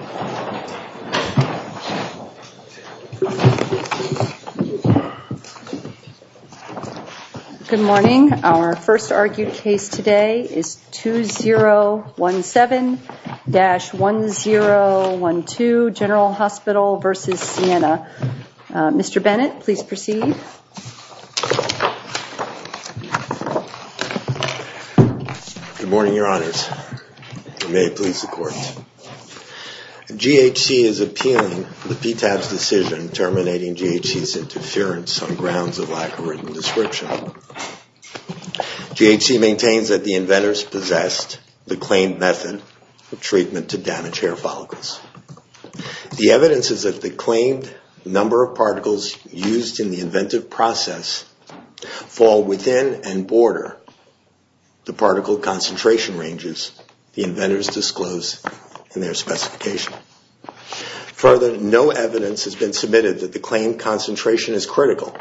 Good morning. Our first argued case today is 2017-1012 General Hospital v. Sienna. Mr. Bennett, please proceed. Good morning, your honors. May it please the court. GHC is appealing the PTAB's decision terminating GHC's interference on grounds of lack of written description. GHC maintains that the inventors possessed the claimed method of treatment to damage hair follicles. The evidence is that the claimed number of particles used in the inventive process fall within and border the particle concentration ranges the inventors disclose in their specification. Further, no evidence has been submitted that the claimed concentration is critical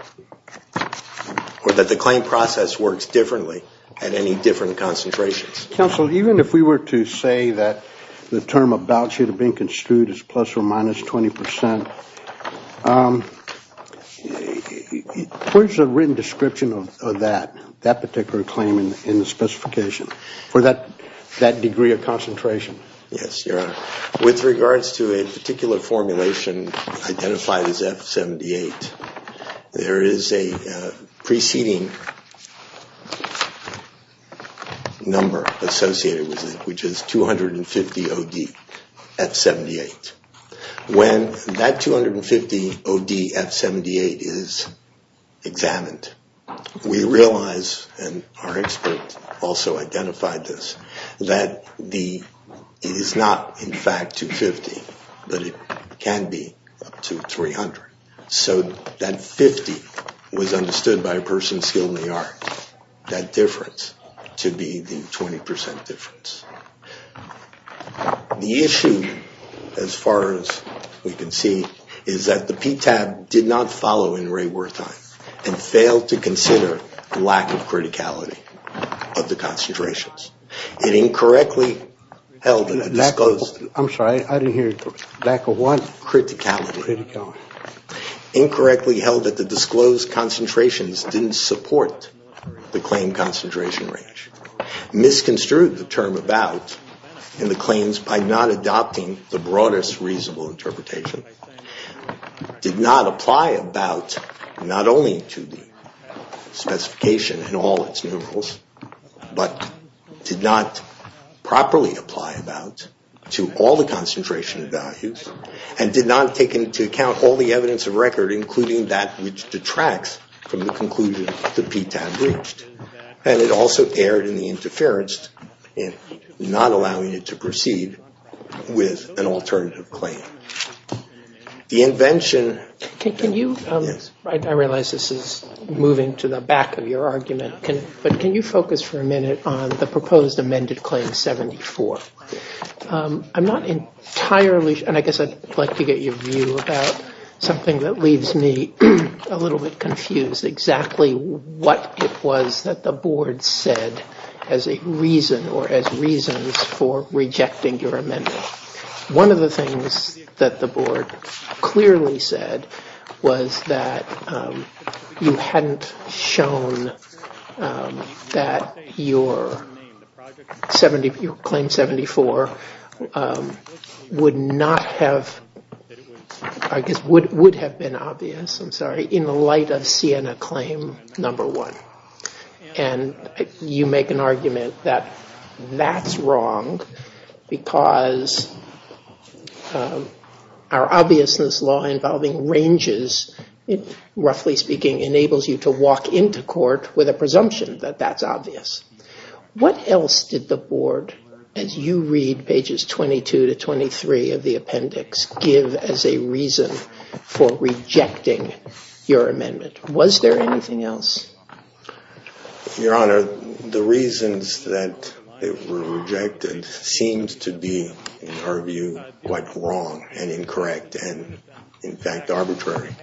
or that the claimed process works differently at any different concentrations. Counsel, even if we were to say that the term about should have been construed as plus or minus 20 percent, where's the written description of that particular claim in the specification for that degree of concentration? Yes, your honor. With regards to a particular formulation identified as F78, there is a preceding number associated with it, which is 250ODF78. When that 250ODF78 is examined, we realize, and our expert also identified this, that it is not in fact 250, but it can be up to 300. So that 50 was understood by a person skilled in the art, that difference to be the 20 percent difference. The issue, as far as we can see, is that the PTAB did not follow in Ray Wertheim and failed to consider the lack of criticality of the concentrations. It incorrectly held that the disclosed... I'm sorry, I didn't hear you. Lack of what? in the claims by not adopting the broadest reasonable interpretation, did not apply about not only to the specification in all its numerals, but did not properly apply about to all the concentration values, and did not take into account all the evidence of record, including that which detracts from the conclusion that the PTAB reached. And it also erred in the interference in not allowing it to proceed with an alternative claim. The invention... Can you... I realize this is moving to the back of your argument, but can you focus for a minute on the proposed amended Claim 74? I'm not entirely... and I guess I'd like to get your view about something that leaves me a little bit confused, exactly what it was that the Board said as a reason or as reasons for rejecting your amendment. One of the things that the Board clearly said was that you hadn't shown that your Claim 74 would not have... I guess would have been obvious, I'm sorry, in the light of Siena Claim Number 1. And you make an argument that that's wrong because our obviousness law involving ranges, roughly speaking, enables you to walk into court with a presumption that that's obvious. What else did the Board, as you read pages 22 to 23 of the appendix, give as a reason for rejecting your amendment? Was there anything else? Your Honor, the reasons that it was rejected seemed to be, in our view, quite wrong and incorrect and, in fact, arbitrary.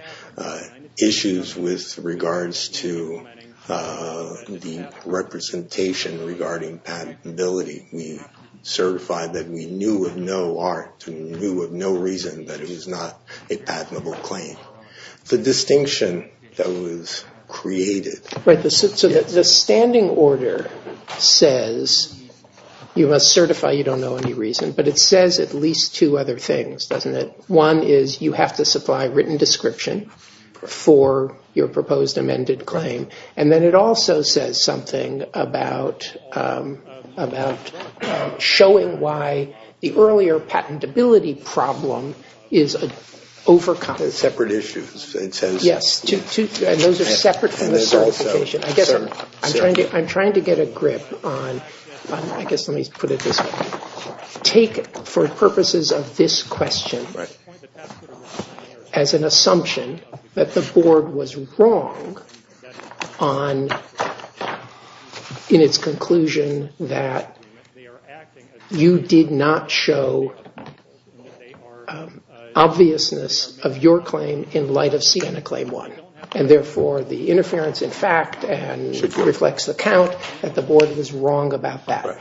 Issues with regards to the representation regarding patentability, we certified that we knew of no art, we knew of no reason that it was not a patentable claim. The distinction that was created... Right, so the standing order says you must certify you don't know any reason, but it says at least two other things, doesn't it? One is you have to supply written description for your proposed amended claim. And then it also says something about showing why the earlier patentability problem is overcome. They're separate issues. Yes, and those are separate from the certification. I'm trying to get a grip on... I guess let me put it this way. I take, for purposes of this question, as an assumption that the Board was wrong in its conclusion that you did not show obviousness of your claim in light of Siena Claim 1. And therefore, the interference, in fact, reflects the count that the Board was wrong about that.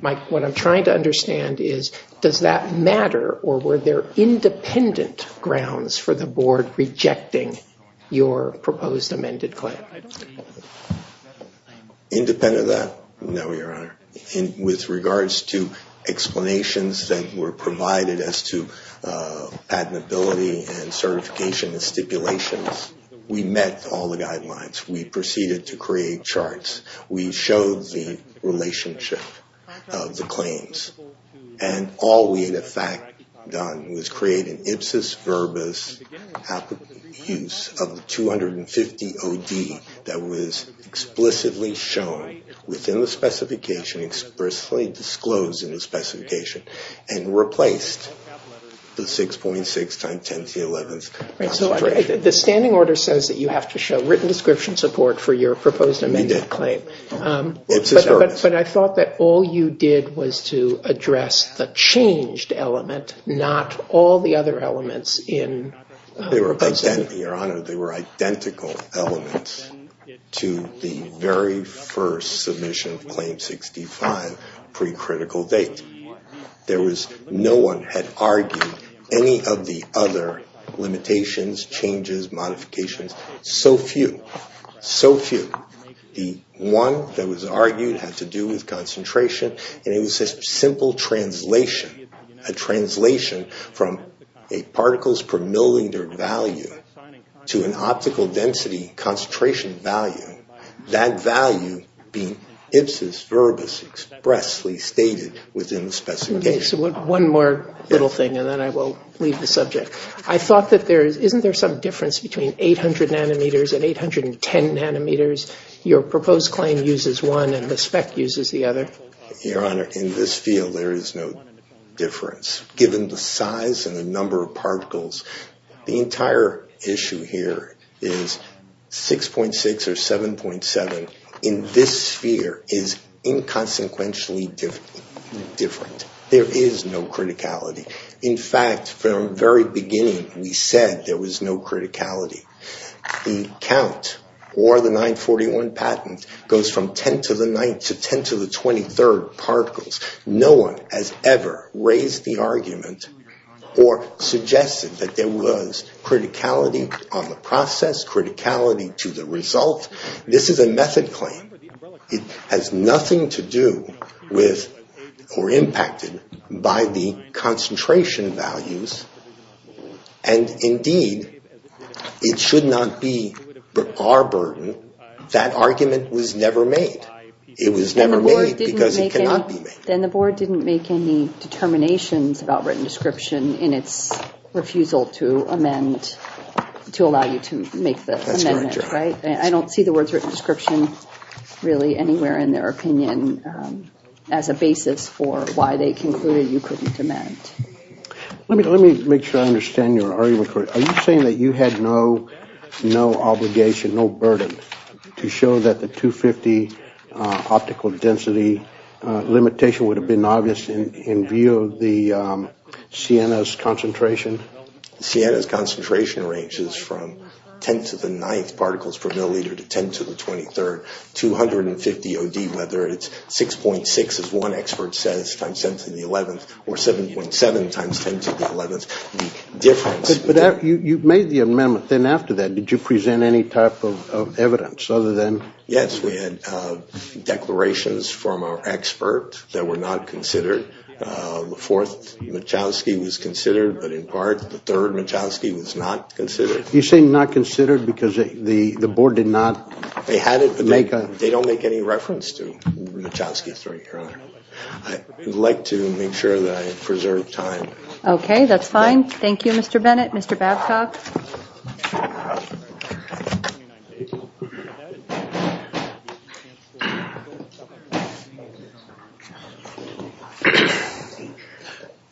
Mike, what I'm trying to understand is, does that matter, or were there independent grounds for the Board rejecting your proposed amended claim? Independent of that? No, Your Honor. With regards to explanations that were provided as to patentability and certification and stipulations, we met all the guidelines. We proceeded to create charts. We showed the relationship of the claims. And all we had, in fact, done was create an ipsis verbis use of the 250OD that was explicitly shown within the specification, expressly disclosed in the specification, and replaced the 6.6 times 10 to the 11th concentration. So the standing order says that you have to show written description support for your proposed amended claim. We did. Ipsis verbis. But I thought that all you did was to address the changed element, not all the other elements in... They were identical, Your Honor. They were identical elements to the very first submission of Claim 65, pre-critical date. No one had argued any of the other limitations, changes, modifications. So few. So few. The one that was argued had to do with concentration, and it was a simple translation. A translation from a particles per milliliter value to an optical density concentration value. That value being ipsis verbis expressly stated within the specification. Okay. So one more little thing, and then I will leave the subject. I thought that there is... Isn't there some difference between 800 nanometers and 810 nanometers? Your proposed claim uses one, and the spec uses the other. Your Honor, in this field, there is no difference, given the size and the number of particles. The entire issue here is 6.6 or 7.7 in this sphere is inconsequentially different. There is no criticality. In fact, from the very beginning, we said there was no criticality. The count or the 941 patent goes from 10 to the 9th to 10 to the 23rd particles. No one has ever raised the argument or suggested that there was criticality on the process, criticality to the result. This is a method claim. It has nothing to do with or impacted by the concentration values, and indeed, it should not be our burden. That argument was never made. It was never made because it cannot be made. Then the board didn't make any determinations about written description in its refusal to amend, to allow you to make the amendment, right? I don't see the words written description really anywhere in their opinion as a basis for why they concluded you couldn't amend. Let me make sure I understand your argument. Are you saying that you had no obligation, no burden, to show that the 250 optical density limitation would have been obvious in view of the Sienna's concentration? Sienna's concentration ranges from 10 to the 9th particles per milliliter to 10 to the 23rd. Whether it's 6.6, as one expert says, times 10 to the 11th, or 7.7 times 10 to the 11th, the difference. You made the amendment. Then after that, did you present any type of evidence other than? Yes, we had declarations from our expert that were not considered. The fourth Michalski was considered, but in part, the third Michalski was not considered. You say not considered because the board did not make a? They had it, but they don't make any reference to the Michalski third, Your Honor. I would like to make sure that I preserve time. Okay, that's fine. Thank you, Mr. Bennett. Mr. Babcock.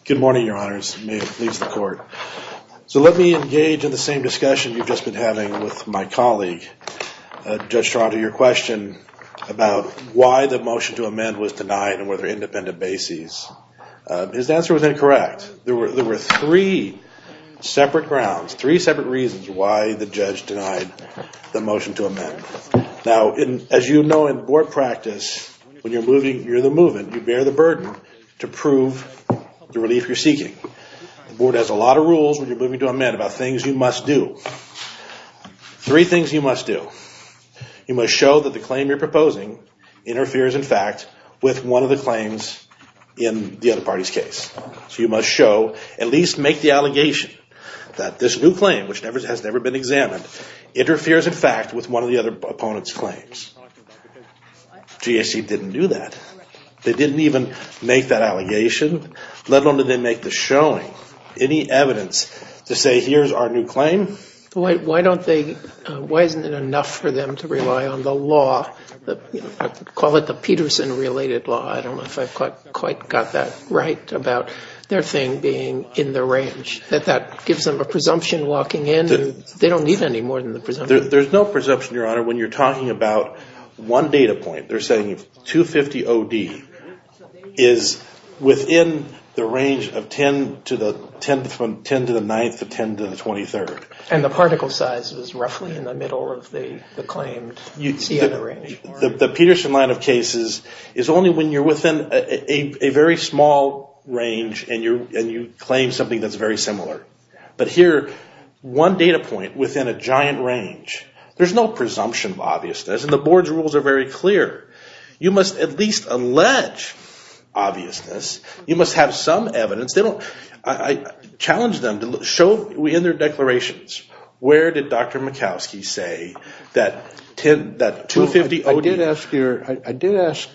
Good morning, Your Honors. May it please the Court. So let me engage in the same discussion you've just been having with my colleague, Judge Toronto. Your question about why the motion to amend was denied and whether independent bases, his answer was incorrect. There were three separate grounds, three separate reasons why the judge denied the motion to amend. Now, as you know, in board practice, when you're moving, you're the movement. You bear the burden to prove the relief you're seeking. The board has a lot of rules when you're moving to amend about things you must do. Three things you must do. You must show that the claim you're proposing interferes, in fact, with one of the claims in the other party's case. So you must show, at least make the allegation that this new claim, which has never been examined, interferes, in fact, with one of the other opponent's claims. GAC didn't do that. They didn't even make that allegation, let alone did they make the showing. Any evidence to say here's our new claim? Why don't they, why isn't it enough for them to rely on the law, call it the Peterson-related law, I don't know if I've quite got that right about their thing being in the range, that that gives them a presumption locking in and they don't need any more than the presumption. There's no presumption, Your Honor, when you're talking about one data point. They're saying 250OD is within the range of 10 to the 9th or 10 to the 23rd. And the particle size is roughly in the middle of the claimed CNA range. The Peterson line of cases is only when you're within a very small range and you claim something that's very similar. But here, one data point within a giant range, there's no presumption, obviously. And the board's rules are very clear. You must at least allege obviousness. You must have some evidence. I challenge them to show in their declarations. Where did Dr. Mikowski say that 250OD? I did ask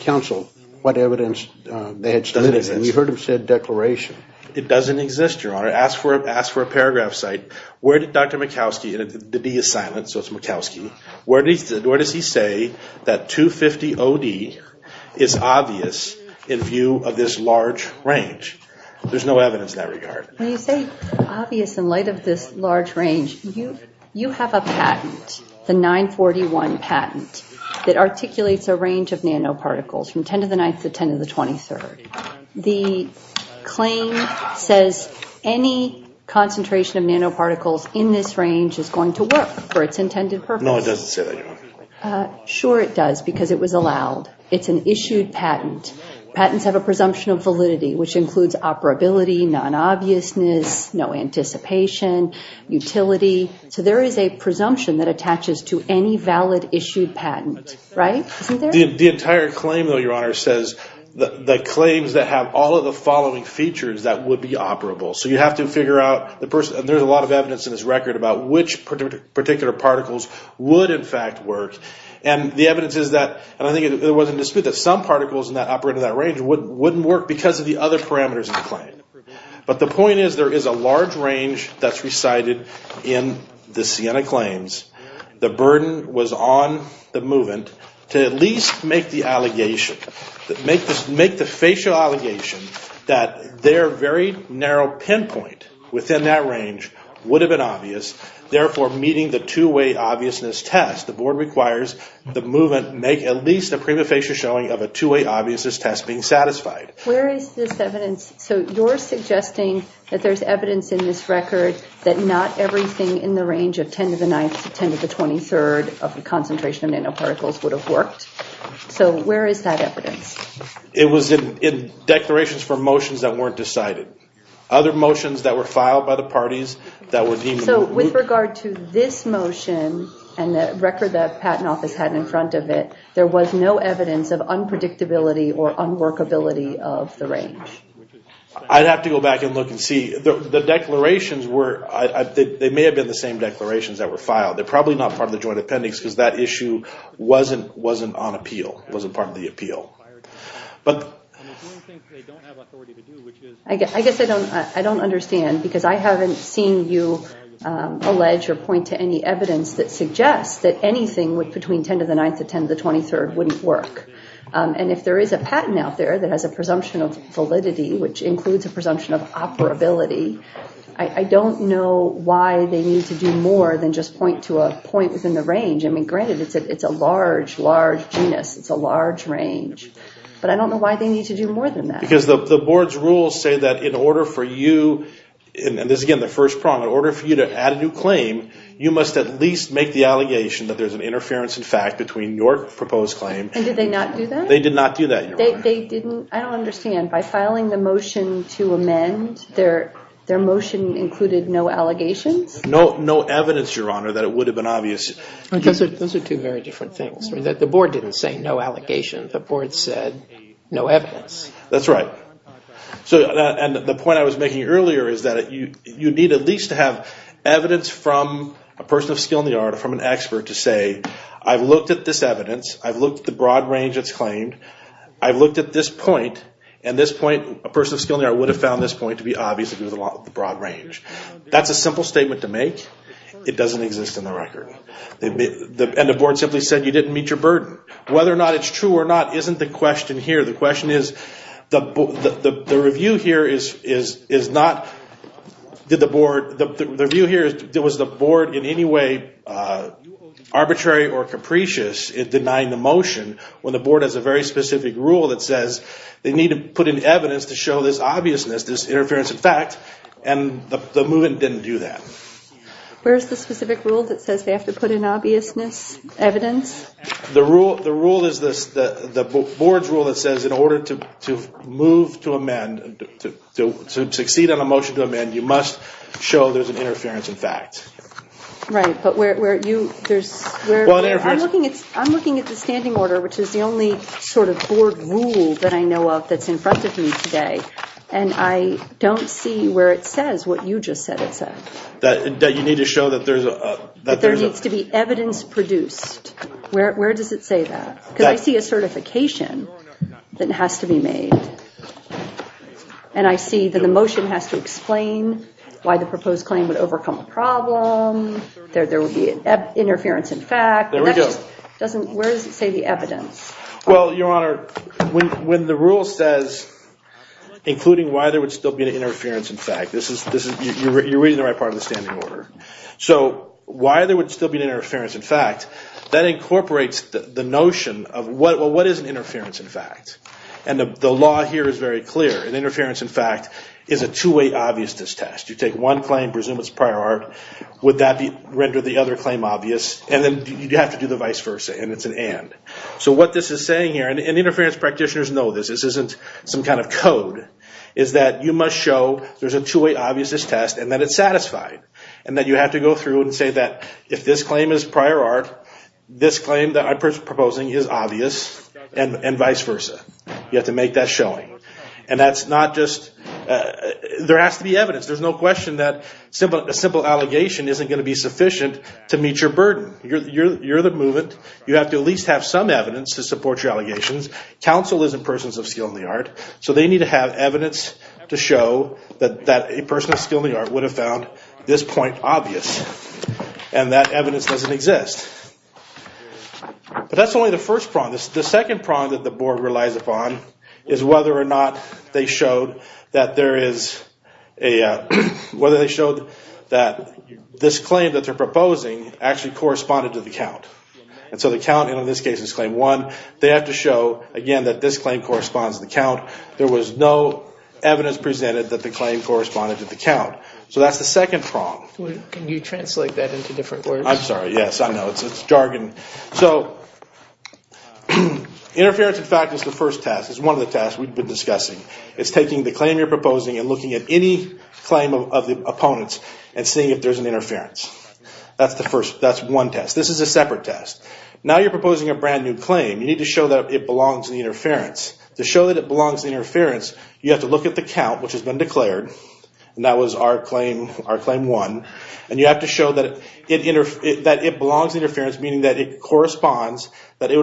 counsel what evidence they had submitted, and you heard him say declaration. It doesn't exist, Your Honor. Ask for a paragraph site. Where did Dr. Mikowski, and the D is silent, so it's Mikowski. Where does he say that 250OD is obvious in view of this large range? There's no evidence in that regard. When you say obvious in light of this large range, you have a patent, the 941 patent, that articulates a range of nanoparticles from 10 to the 9th to 10 to the 23rd. The claim says any concentration of nanoparticles in this range is going to work for its intended purpose. No, it doesn't say that, Your Honor. Sure it does, because it was allowed. It's an issued patent. Patents have a presumption of validity, which includes operability, non-obviousness, no anticipation, utility. So there is a presumption that attaches to any valid issued patent, right? The entire claim, though, Your Honor, says the claims that have all of the following features that would be operable. So you have to figure out the person, and there's a lot of evidence in this record about which particular particles would, in fact, work. And the evidence is that, and I think there was a dispute that some particles that operated that range wouldn't work because of the other parameters in the claim. But the point is there is a large range that's recited in the Sienna claims. The burden was on the movement to at least make the allegation, make the facial allegation that their very narrow pinpoint within that range would have been obvious, therefore meeting the two-way obviousness test. The Board requires the movement make at least a prima facie showing of a two-way obviousness test being satisfied. Where is this evidence? So you're suggesting that there's evidence in this record that not everything in the range of 10 to the 9th to 10 to the 23rd of the concentration of nanoparticles would have worked? So where is that evidence? It was in declarations for motions that weren't decided. Other motions that were filed by the parties that were deemed... So with regard to this motion and the record the Patent Office had in front of it, there was no evidence of unpredictability or unworkability of the range? I'd have to go back and look and see. The declarations were... They may have been the same declarations that were filed. They're probably not part of the joint appendix because that issue wasn't on appeal, wasn't part of the appeal. But... I guess I don't understand because I haven't seen you allege or point to any evidence that suggests that anything between 10 to the 9th to 10 to the 23rd wouldn't work. which includes a presumption of operability. I don't know why they need to do more than just point to a point within the range. I mean, granted, it's a large, large genus. It's a large range. But I don't know why they need to do more than that. Because the board's rules say that in order for you... And this is, again, the first prong. In order for you to add a new claim, you must at least make the allegation that there's an interference, in fact, between your proposed claim... And did they not do that? They did not do that. They didn't... I don't understand. By filing the motion to amend, their motion included no allegations? No evidence, Your Honor, that it would have been obvious. Those are two very different things. The board didn't say no allegations. The board said no evidence. That's right. And the point I was making earlier is that you need at least to have evidence from a person of skill in the art, from an expert, to say, I've looked at this evidence. I've looked at the broad range it's claimed. I've looked at this point, and this point, a person of skill in the art would have found this point to be obvious if it was the broad range. That's a simple statement to make. It doesn't exist in the record. And the board simply said you didn't meet your burden. Whether or not it's true or not isn't the question here. The question is, the review here is not, did the board... The review here is, was the board in any way arbitrary or capricious in denying the motion when the board has a very specific rule that says they need to put in evidence to show this obviousness, this interference in fact, and the movement didn't do that? Where's the specific rule that says they have to put in obviousness, evidence? The rule is the board's rule that says in order to move to amend, to succeed on a motion to amend, you must show there's an interference in fact. Right, but where you, there's... I'm looking at the standing order, which is the only sort of board rule that I know of that's in front of me today, and I don't see where it says what you just said it said. That you need to show that there's a... That there needs to be evidence produced. Where does it say that? Because I see a certification that has to be made, and I see that the motion has to explain why the proposed claim would overcome a problem, there would be an interference in fact. There we go. Where does it say the evidence? Well, Your Honor, when the rule says, including why there would still be an interference in fact, this is, you're reading the right part of the standing order. So why there would still be an interference in fact, that incorporates the notion of what is an interference in fact, and the law here is very clear. An interference in fact is a two-way obviousness test. You take one claim, presume it's prior art, would that render the other claim obvious, and then you have to do the vice versa, and it's an and. So what this is saying here, and interference practitioners know this, this isn't some kind of code, is that you must show there's a two-way obviousness test and that it's satisfied, and that you have to go through and say that if this claim is prior art, this claim that I'm proposing is obvious, and vice versa. You have to make that showing. And that's not just... There has to be evidence. There's no question that a simple allegation isn't going to be sufficient to meet your burden. You're the movement. You have to at least have some evidence to support your allegations. Counsel isn't persons of skill in the art, so they need to have evidence to show that a person of skill in the art would have found this point obvious, and that evidence doesn't exist. But that's only the first prong. The second prong that the board relies upon is whether or not they showed that there is a... whether they showed that this claim that they're proposing actually corresponded to the count. And so the count in this case is claim one. They have to show, again, that this claim corresponds to the count. There was no evidence presented that the claim corresponded to the count. So that's the second prong. Can you translate that into different words? I'm sorry, yes, I know. It's jargon. So interference, in fact, is the first task. It's one of the tasks we've been discussing. It's taking the claim you're proposing and looking at any claim of the opponent's and seeing if there's an interference. That's the first. That's one task. This is a separate task. Now you're proposing a brand-new claim. You need to show that it belongs to the interference. To show that it belongs to the interference, you have to look at the count, which has been declared, and that was our claim, our claim one, and you have to show that it belongs to the interference, meaning that it corresponds, that it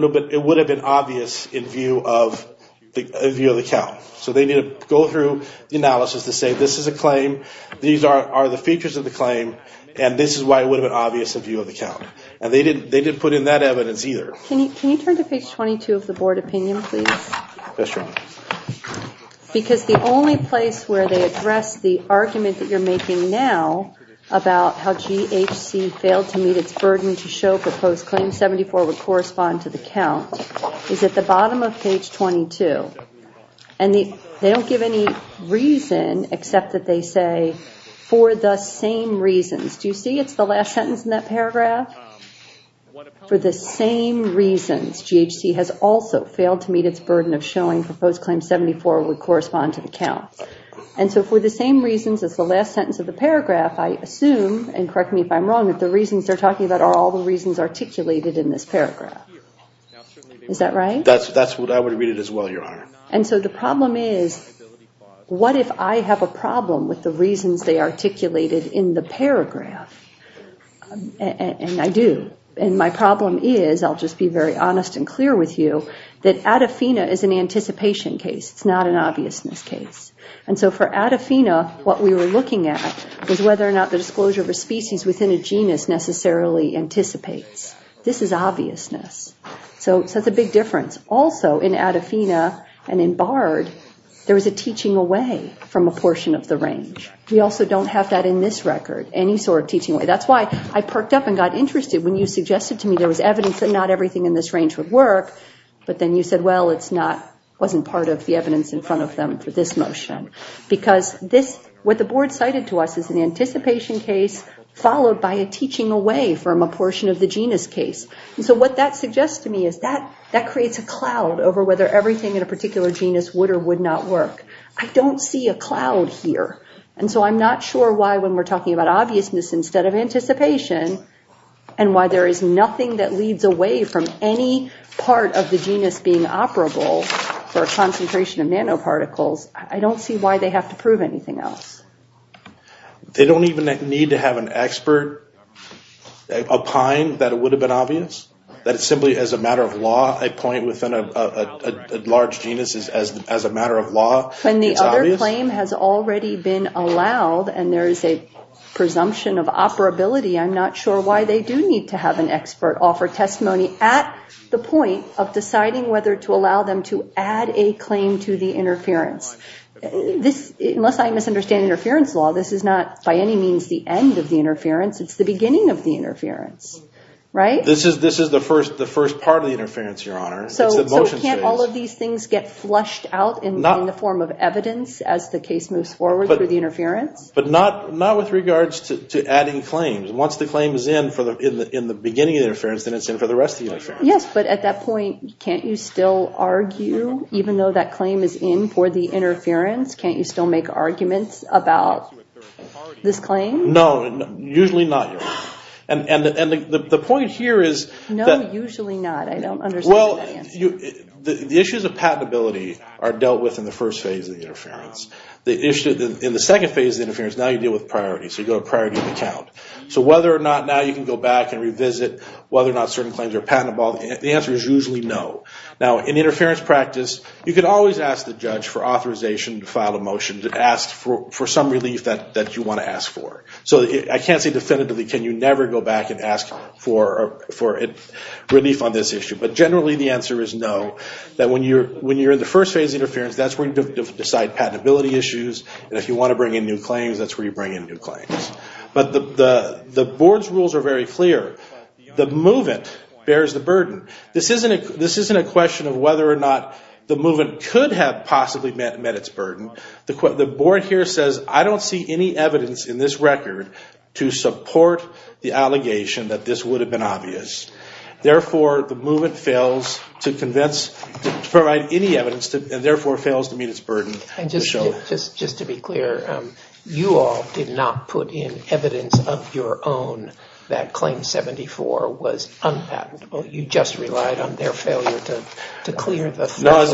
would have been obvious in view of the count. So they need to go through the analysis to say this is a claim, these are the features of the claim, and this is why it would have been obvious in view of the count. And they didn't put in that evidence either. Can you turn to page 22 of the board opinion, please? Yes, ma'am. Because the only place where they address the argument that you're making now about how GHC failed to meet its burden to show proposed claim 74 would correspond to the count is at the bottom of page 22. And they don't give any reason except that they say, for the same reasons. Do you see it's the last sentence in that paragraph? For the same reasons, GHC has also failed to meet its burden of showing proposed claim 74 would correspond to the count. And so for the same reasons as the last sentence of the paragraph, I assume, and correct me if I'm wrong, that the reasons they're talking about are all the reasons articulated in this paragraph. Is that right? That's what I would read it as well, Your Honor. And so the problem is, what if I have a problem with the reasons they articulated in the paragraph? And I do. And my problem is, I'll just be very honest and clear with you, that Adafina is an anticipation case. It's not an obviousness case. And so for Adafina, what we were looking at was whether or not the disclosure of a species within a genus necessarily anticipates. This is obviousness. So that's a big difference. Also, in Adafina and in BARD, there was a teaching away from a portion of the range. We also don't have that in this record, any sort of teaching away. That's why I perked up and got interested when you suggested to me there was evidence that not everything in this range would work. But then you said, well, it wasn't part of the evidence in front of them for this motion. Because what the board cited to us is an anticipation case followed by a teaching away from a portion of the genus case. And so what that suggests to me is that that creates a cloud over whether everything in a particular genus would or would not work. I don't see a cloud here. And so I'm not sure why when we're talking about obviousness instead of anticipation and why there is nothing that leads away from any part of the genus being operable for a concentration of nanoparticles, I don't see why they have to prove anything else. They don't even need to have an expert opine that it would have been obvious. That simply as a matter of law, a point within a large genus is as a matter of law. When the other claim has already been allowed and there is a presumption of operability, I'm not sure why they do need to have an expert offer testimony at the point of deciding whether to allow them to add a claim to the interference. Unless I misunderstand interference law, this is not by any means the end of the interference. It's the beginning of the interference, right? This is the first part of the interference, Your Honor. So can't all of these things get flushed out in the form of evidence as the case moves forward through the interference? But not with regards to adding claims. Once the claim is in in the beginning of the interference, then it's in for the rest of the interference. Yes, but at that point, can't you still argue even though that claim is in for the interference? Can't you still make arguments about this claim? No, usually not, Your Honor. And the point here is that... No, usually not. I don't understand that answer. Well, the issues of patentability are dealt with in the first phase of the interference. In the second phase of the interference, now you deal with priority. So you go to priority of account. So whether or not now you can go back and revisit whether or not certain claims are patentable, the answer is usually no. Now, in interference practice, you can always ask the judge for authorization to file a motion to ask for some relief that you want to ask for. So I can't say definitively can you never go back and ask for relief on this issue. But generally the answer is no, that when you're in the first phase of interference, that's where you decide patentability issues. And if you want to bring in new claims, that's where you bring in new claims. But the board's rules are very clear. The movement bears the burden. This isn't a question of whether or not the movement could have possibly met its burden. The board here says I don't see any evidence in this record to support the allegation that this would have been obvious. Therefore, the movement fails to convince, to provide any evidence, and therefore fails to meet its burden. And just to be clear, you all did not put in evidence of your own that Claim 74 was unpatentable. You just relied on their failure to clear the...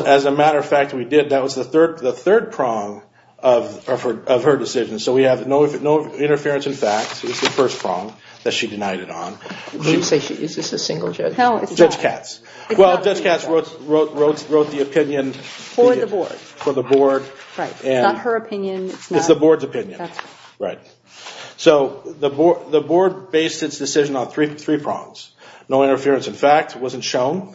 As a matter of fact, we did. That was the third prong of her decision. So we have no interference in fact. It was the first prong that she denied it on. Is this a single judge? Judge Katz. Well, Judge Katz wrote the opinion... For the board. For the board. Right. It's not her opinion. It's the board's opinion. Right. So the board based its decision on three prongs. No interference in fact wasn't shown.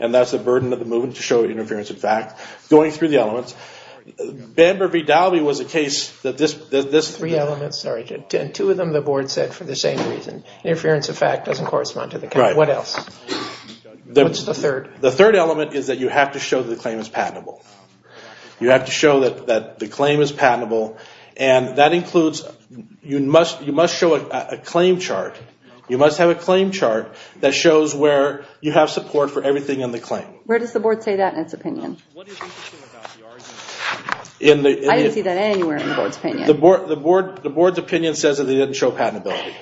And that's the burden of the movement to show interference in fact. Going through the elements. Bamber v. Dalby was a case that this... Three elements, sorry. Two of them the board said for the same reason. Interference in fact doesn't correspond to the... Right. What else? What's the third? The third element is that you have to show that the claim is patentable. You have to show that the claim is patentable. And that includes... You must show a claim chart. You must have a claim chart that shows where you have support for everything in the claim. Where does the board say that in its opinion? I didn't see that anywhere in the board's opinion. The board's opinion says that they didn't show patentability.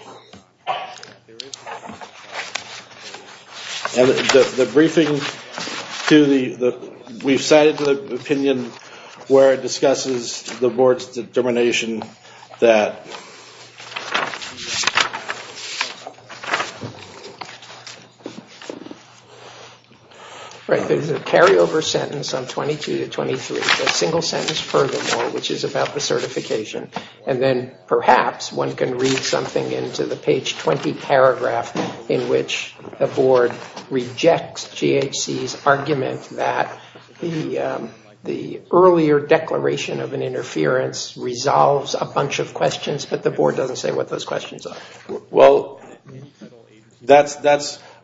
And the briefing to the... We've cited the opinion where it discusses the board's determination that... Right. There's a carryover sentence on 22 to 23. A single sentence furthermore which is about the certification. And then perhaps one can read something into the page 20 paragraph in which the board rejects GHC's argument that the earlier declaration of an interference resolves a bunch of questions, but the board doesn't say what those questions are. Well, that's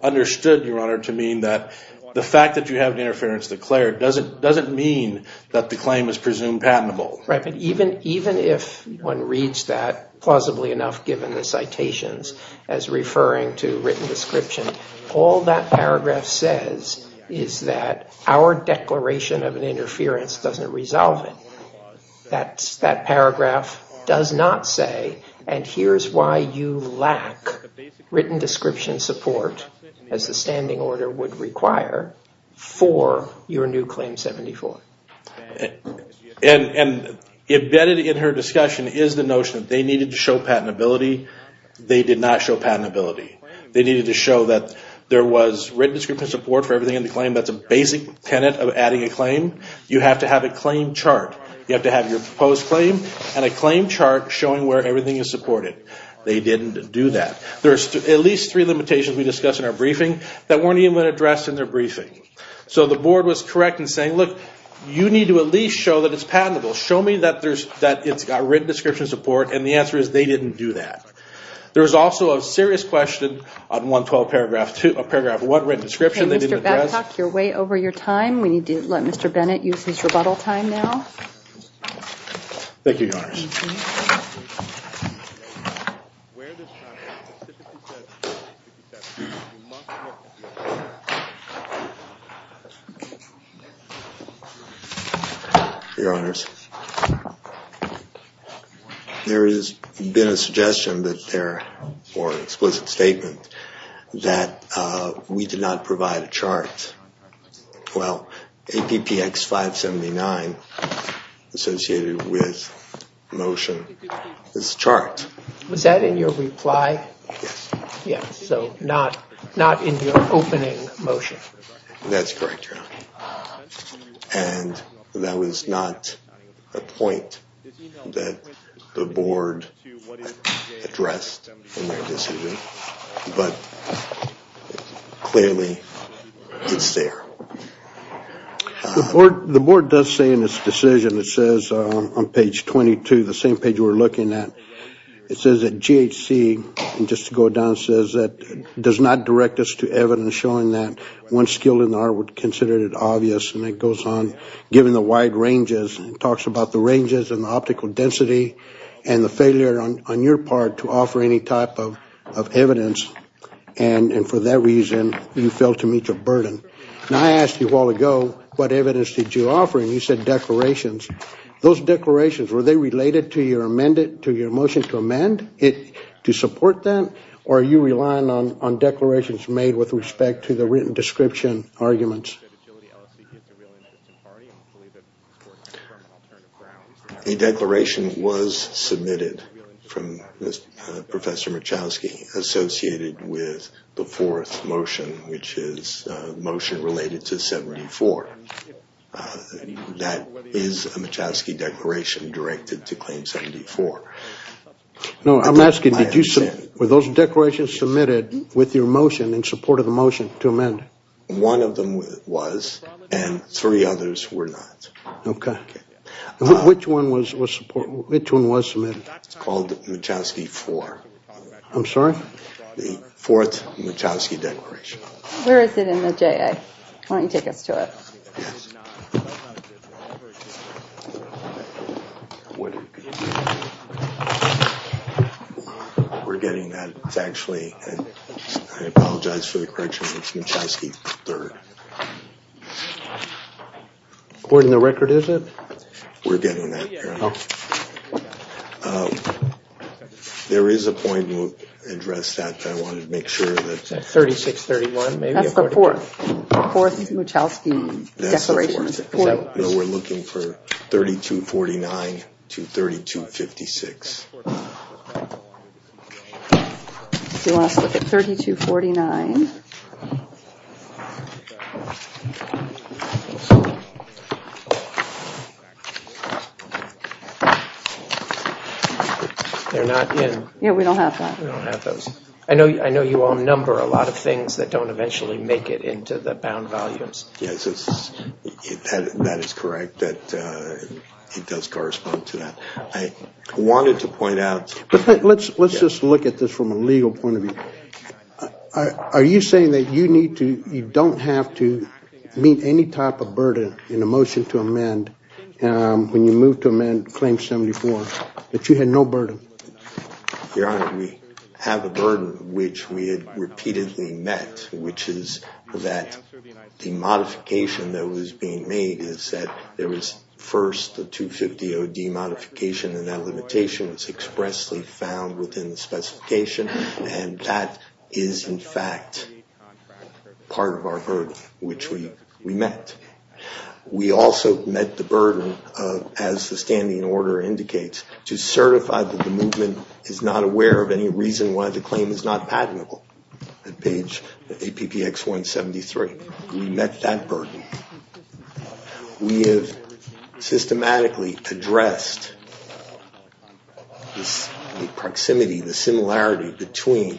understood, Your Honor, to mean that the fact that you have an interference declared doesn't mean that the claim is presumed patentable. Right. But even if one reads that plausibly enough given the citations as referring to written description, all that paragraph says is that our declaration of an interference doesn't resolve it. That paragraph does not say, and here's why you lack written description support as the standing order would require for your new Claim 74. And embedded in her discussion is the notion that they needed to show patentability. They did not show patentability. They needed to show that there was written description support for everything in the claim. That's a basic tenet of adding a claim. You have to have a claim chart. You have to have your proposed claim and a claim chart showing where everything is supported. They didn't do that. There's at least three limitations we discussed in our briefing that weren't even addressed in their briefing. So the board was correct in saying, look, you need to at least show that it's patentable. Show me that it's got written description support. And the answer is they didn't do that. There was also a serious question on 112 paragraph 1, written description. You're way over your time. We need to let Mr. Bennett use his rebuttal time now. Thank you, Your Honors. Your Honors. There has been a suggestion that there, or explicit statement, that we did not provide a chart. Well, APPX 579 associated with motion is a chart. Was that in your reply? Yes. Yes, so not in your opening motion. That's correct, Your Honor. And that was not a point that the board addressed in their decision. But clearly it's there. The board does say in its decision, it says on page 22, the same page we're looking at, it says that GHC, just to go down, says that does not direct us to evidence showing that one skill in the art would consider it obvious. And it goes on, given the wide ranges, it talks about the ranges and the optical density and the failure on your part to offer any type of evidence. And for that reason, you fail to meet your burden. And I asked you a while ago, what evidence did you offer? And you said declarations. Those declarations, were they related to your motion to amend it to support that? Or are you relying on declarations made with respect to the written description arguments? A declaration was submitted from Professor Machowski associated with the fourth motion, which is a motion related to 74. That is a Machowski declaration directed to claim 74. No, I'm asking, were those declarations submitted with your motion in support of the motion to amend? One of them was, and three others were not. Which one was submitted? It's called Machowski 4. I'm sorry? The fourth Machowski declaration. Where is it in the JA? Why don't you take us to it? We're getting that, it's actually, I apologize for the correction, it's Machowski 3rd. According to the record, is it? We're getting that. There is a point we'll address that, but I wanted to make sure that... 3631, maybe? That's the fourth. The fourth Machowski declaration. We're looking for 3249 to 3256. Do you want us to look at 3249? They're not in. Yeah, we don't have that. We don't have those. I know you all number a lot of things that don't eventually make it into the bound volumes. Yes, that is correct, that it does correspond to that. I wanted to point out... Let's just look at this from a legal point of view. Are you saying that you need to, you don't have to, mean to, any type of burden in a motion to amend, when you move to amend Claim 74, that you had no burden? Your Honor, we have a burden which we had repeatedly met, which is that the modification that was being made is that there was first a 250 OD modification and that limitation was expressly found within the specification, and that is, in fact, part of our burden, which we met. We also met the burden of, as the standing order indicates, to certify that the movement is not aware of any reason why the claim is not patentable, at page APPX 173. We met that burden. We have systematically addressed the proximity, the similarity between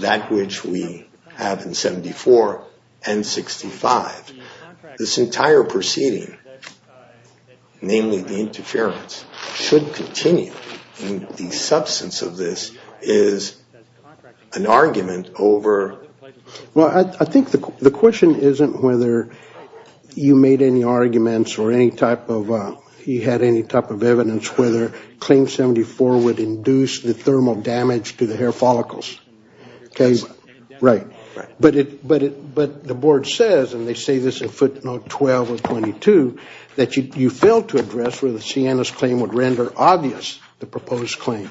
that which we have in 74 and 65. This entire proceeding, namely the interference, should continue. The substance of this is an argument over... Well, I think the question isn't whether you made any arguments or any type of, you had any type of evidence whether Claim 74 would induce the thermal damage to the hair follicles. Right. But the board says, and they say this in footnote 12 of 22, that you failed to address whether Sienna's claim would render obvious the proposed claim.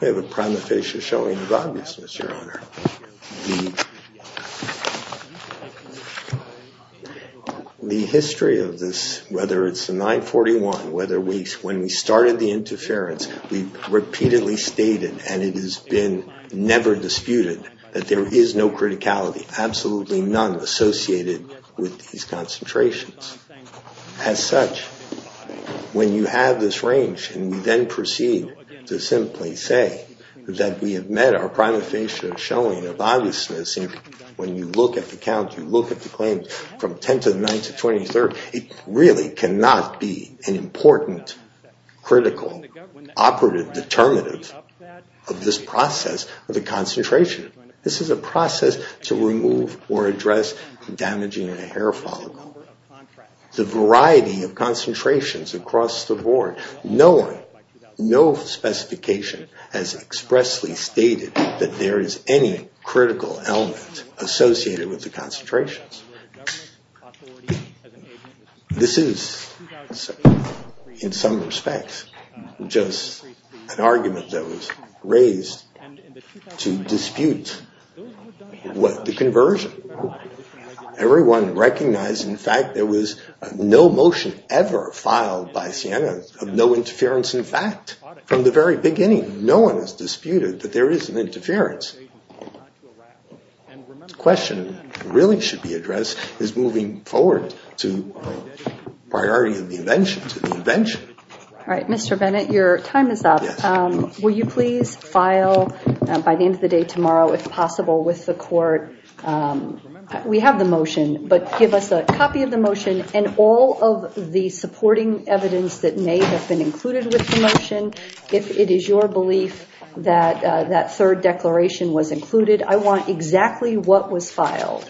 We have a prima facie showing of obviousness, Your Honor. The history of this, whether it's the 941, when we started the interference, we repeatedly stated, and it has been never disputed, that there is no criticality, absolutely none associated with these concentrations. As such, when you have this range, and we then proceed to simply say that we have met our prima facie showing of obviousness, when you look at the count, you look at the claims from 10 to the 9th to 23rd, it really cannot be an important, critical, operative, determinative of this process of the concentration. This is a process to remove or address damaging a hair follicle. The variety of concentrations across the board, no one, no specification has expressly stated that there is any critical element associated with the concentrations. This is, in some respects, just an argument that was raised to dispute the conversion. Everyone recognized, in fact, there was no motion ever filed by Sienna of no interference in fact. From the very beginning, no one has disputed that there is an interference. The question really should be addressed is moving forward to the priority of the invention, to the invention. All right, Mr. Bennett, your time is up. Will you please file by the end of the day tomorrow, if possible, with the court? We have the motion, but give us a copy of the motion and all of the supporting evidence that may have been included with the motion. If it is your belief that that third declaration was included, I want exactly what was filed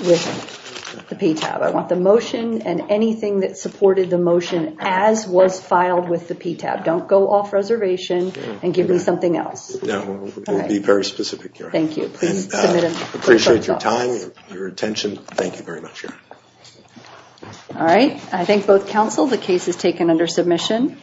with the PTAB. I want the motion and anything that supported the motion as was filed with the PTAB. Don't go off reservation and give me something else. No, we'll be very specific, Karen. Thank you. Appreciate your time, your attention. Thank you very much, Karen. All right, I thank both counsel. The case is taken under submission.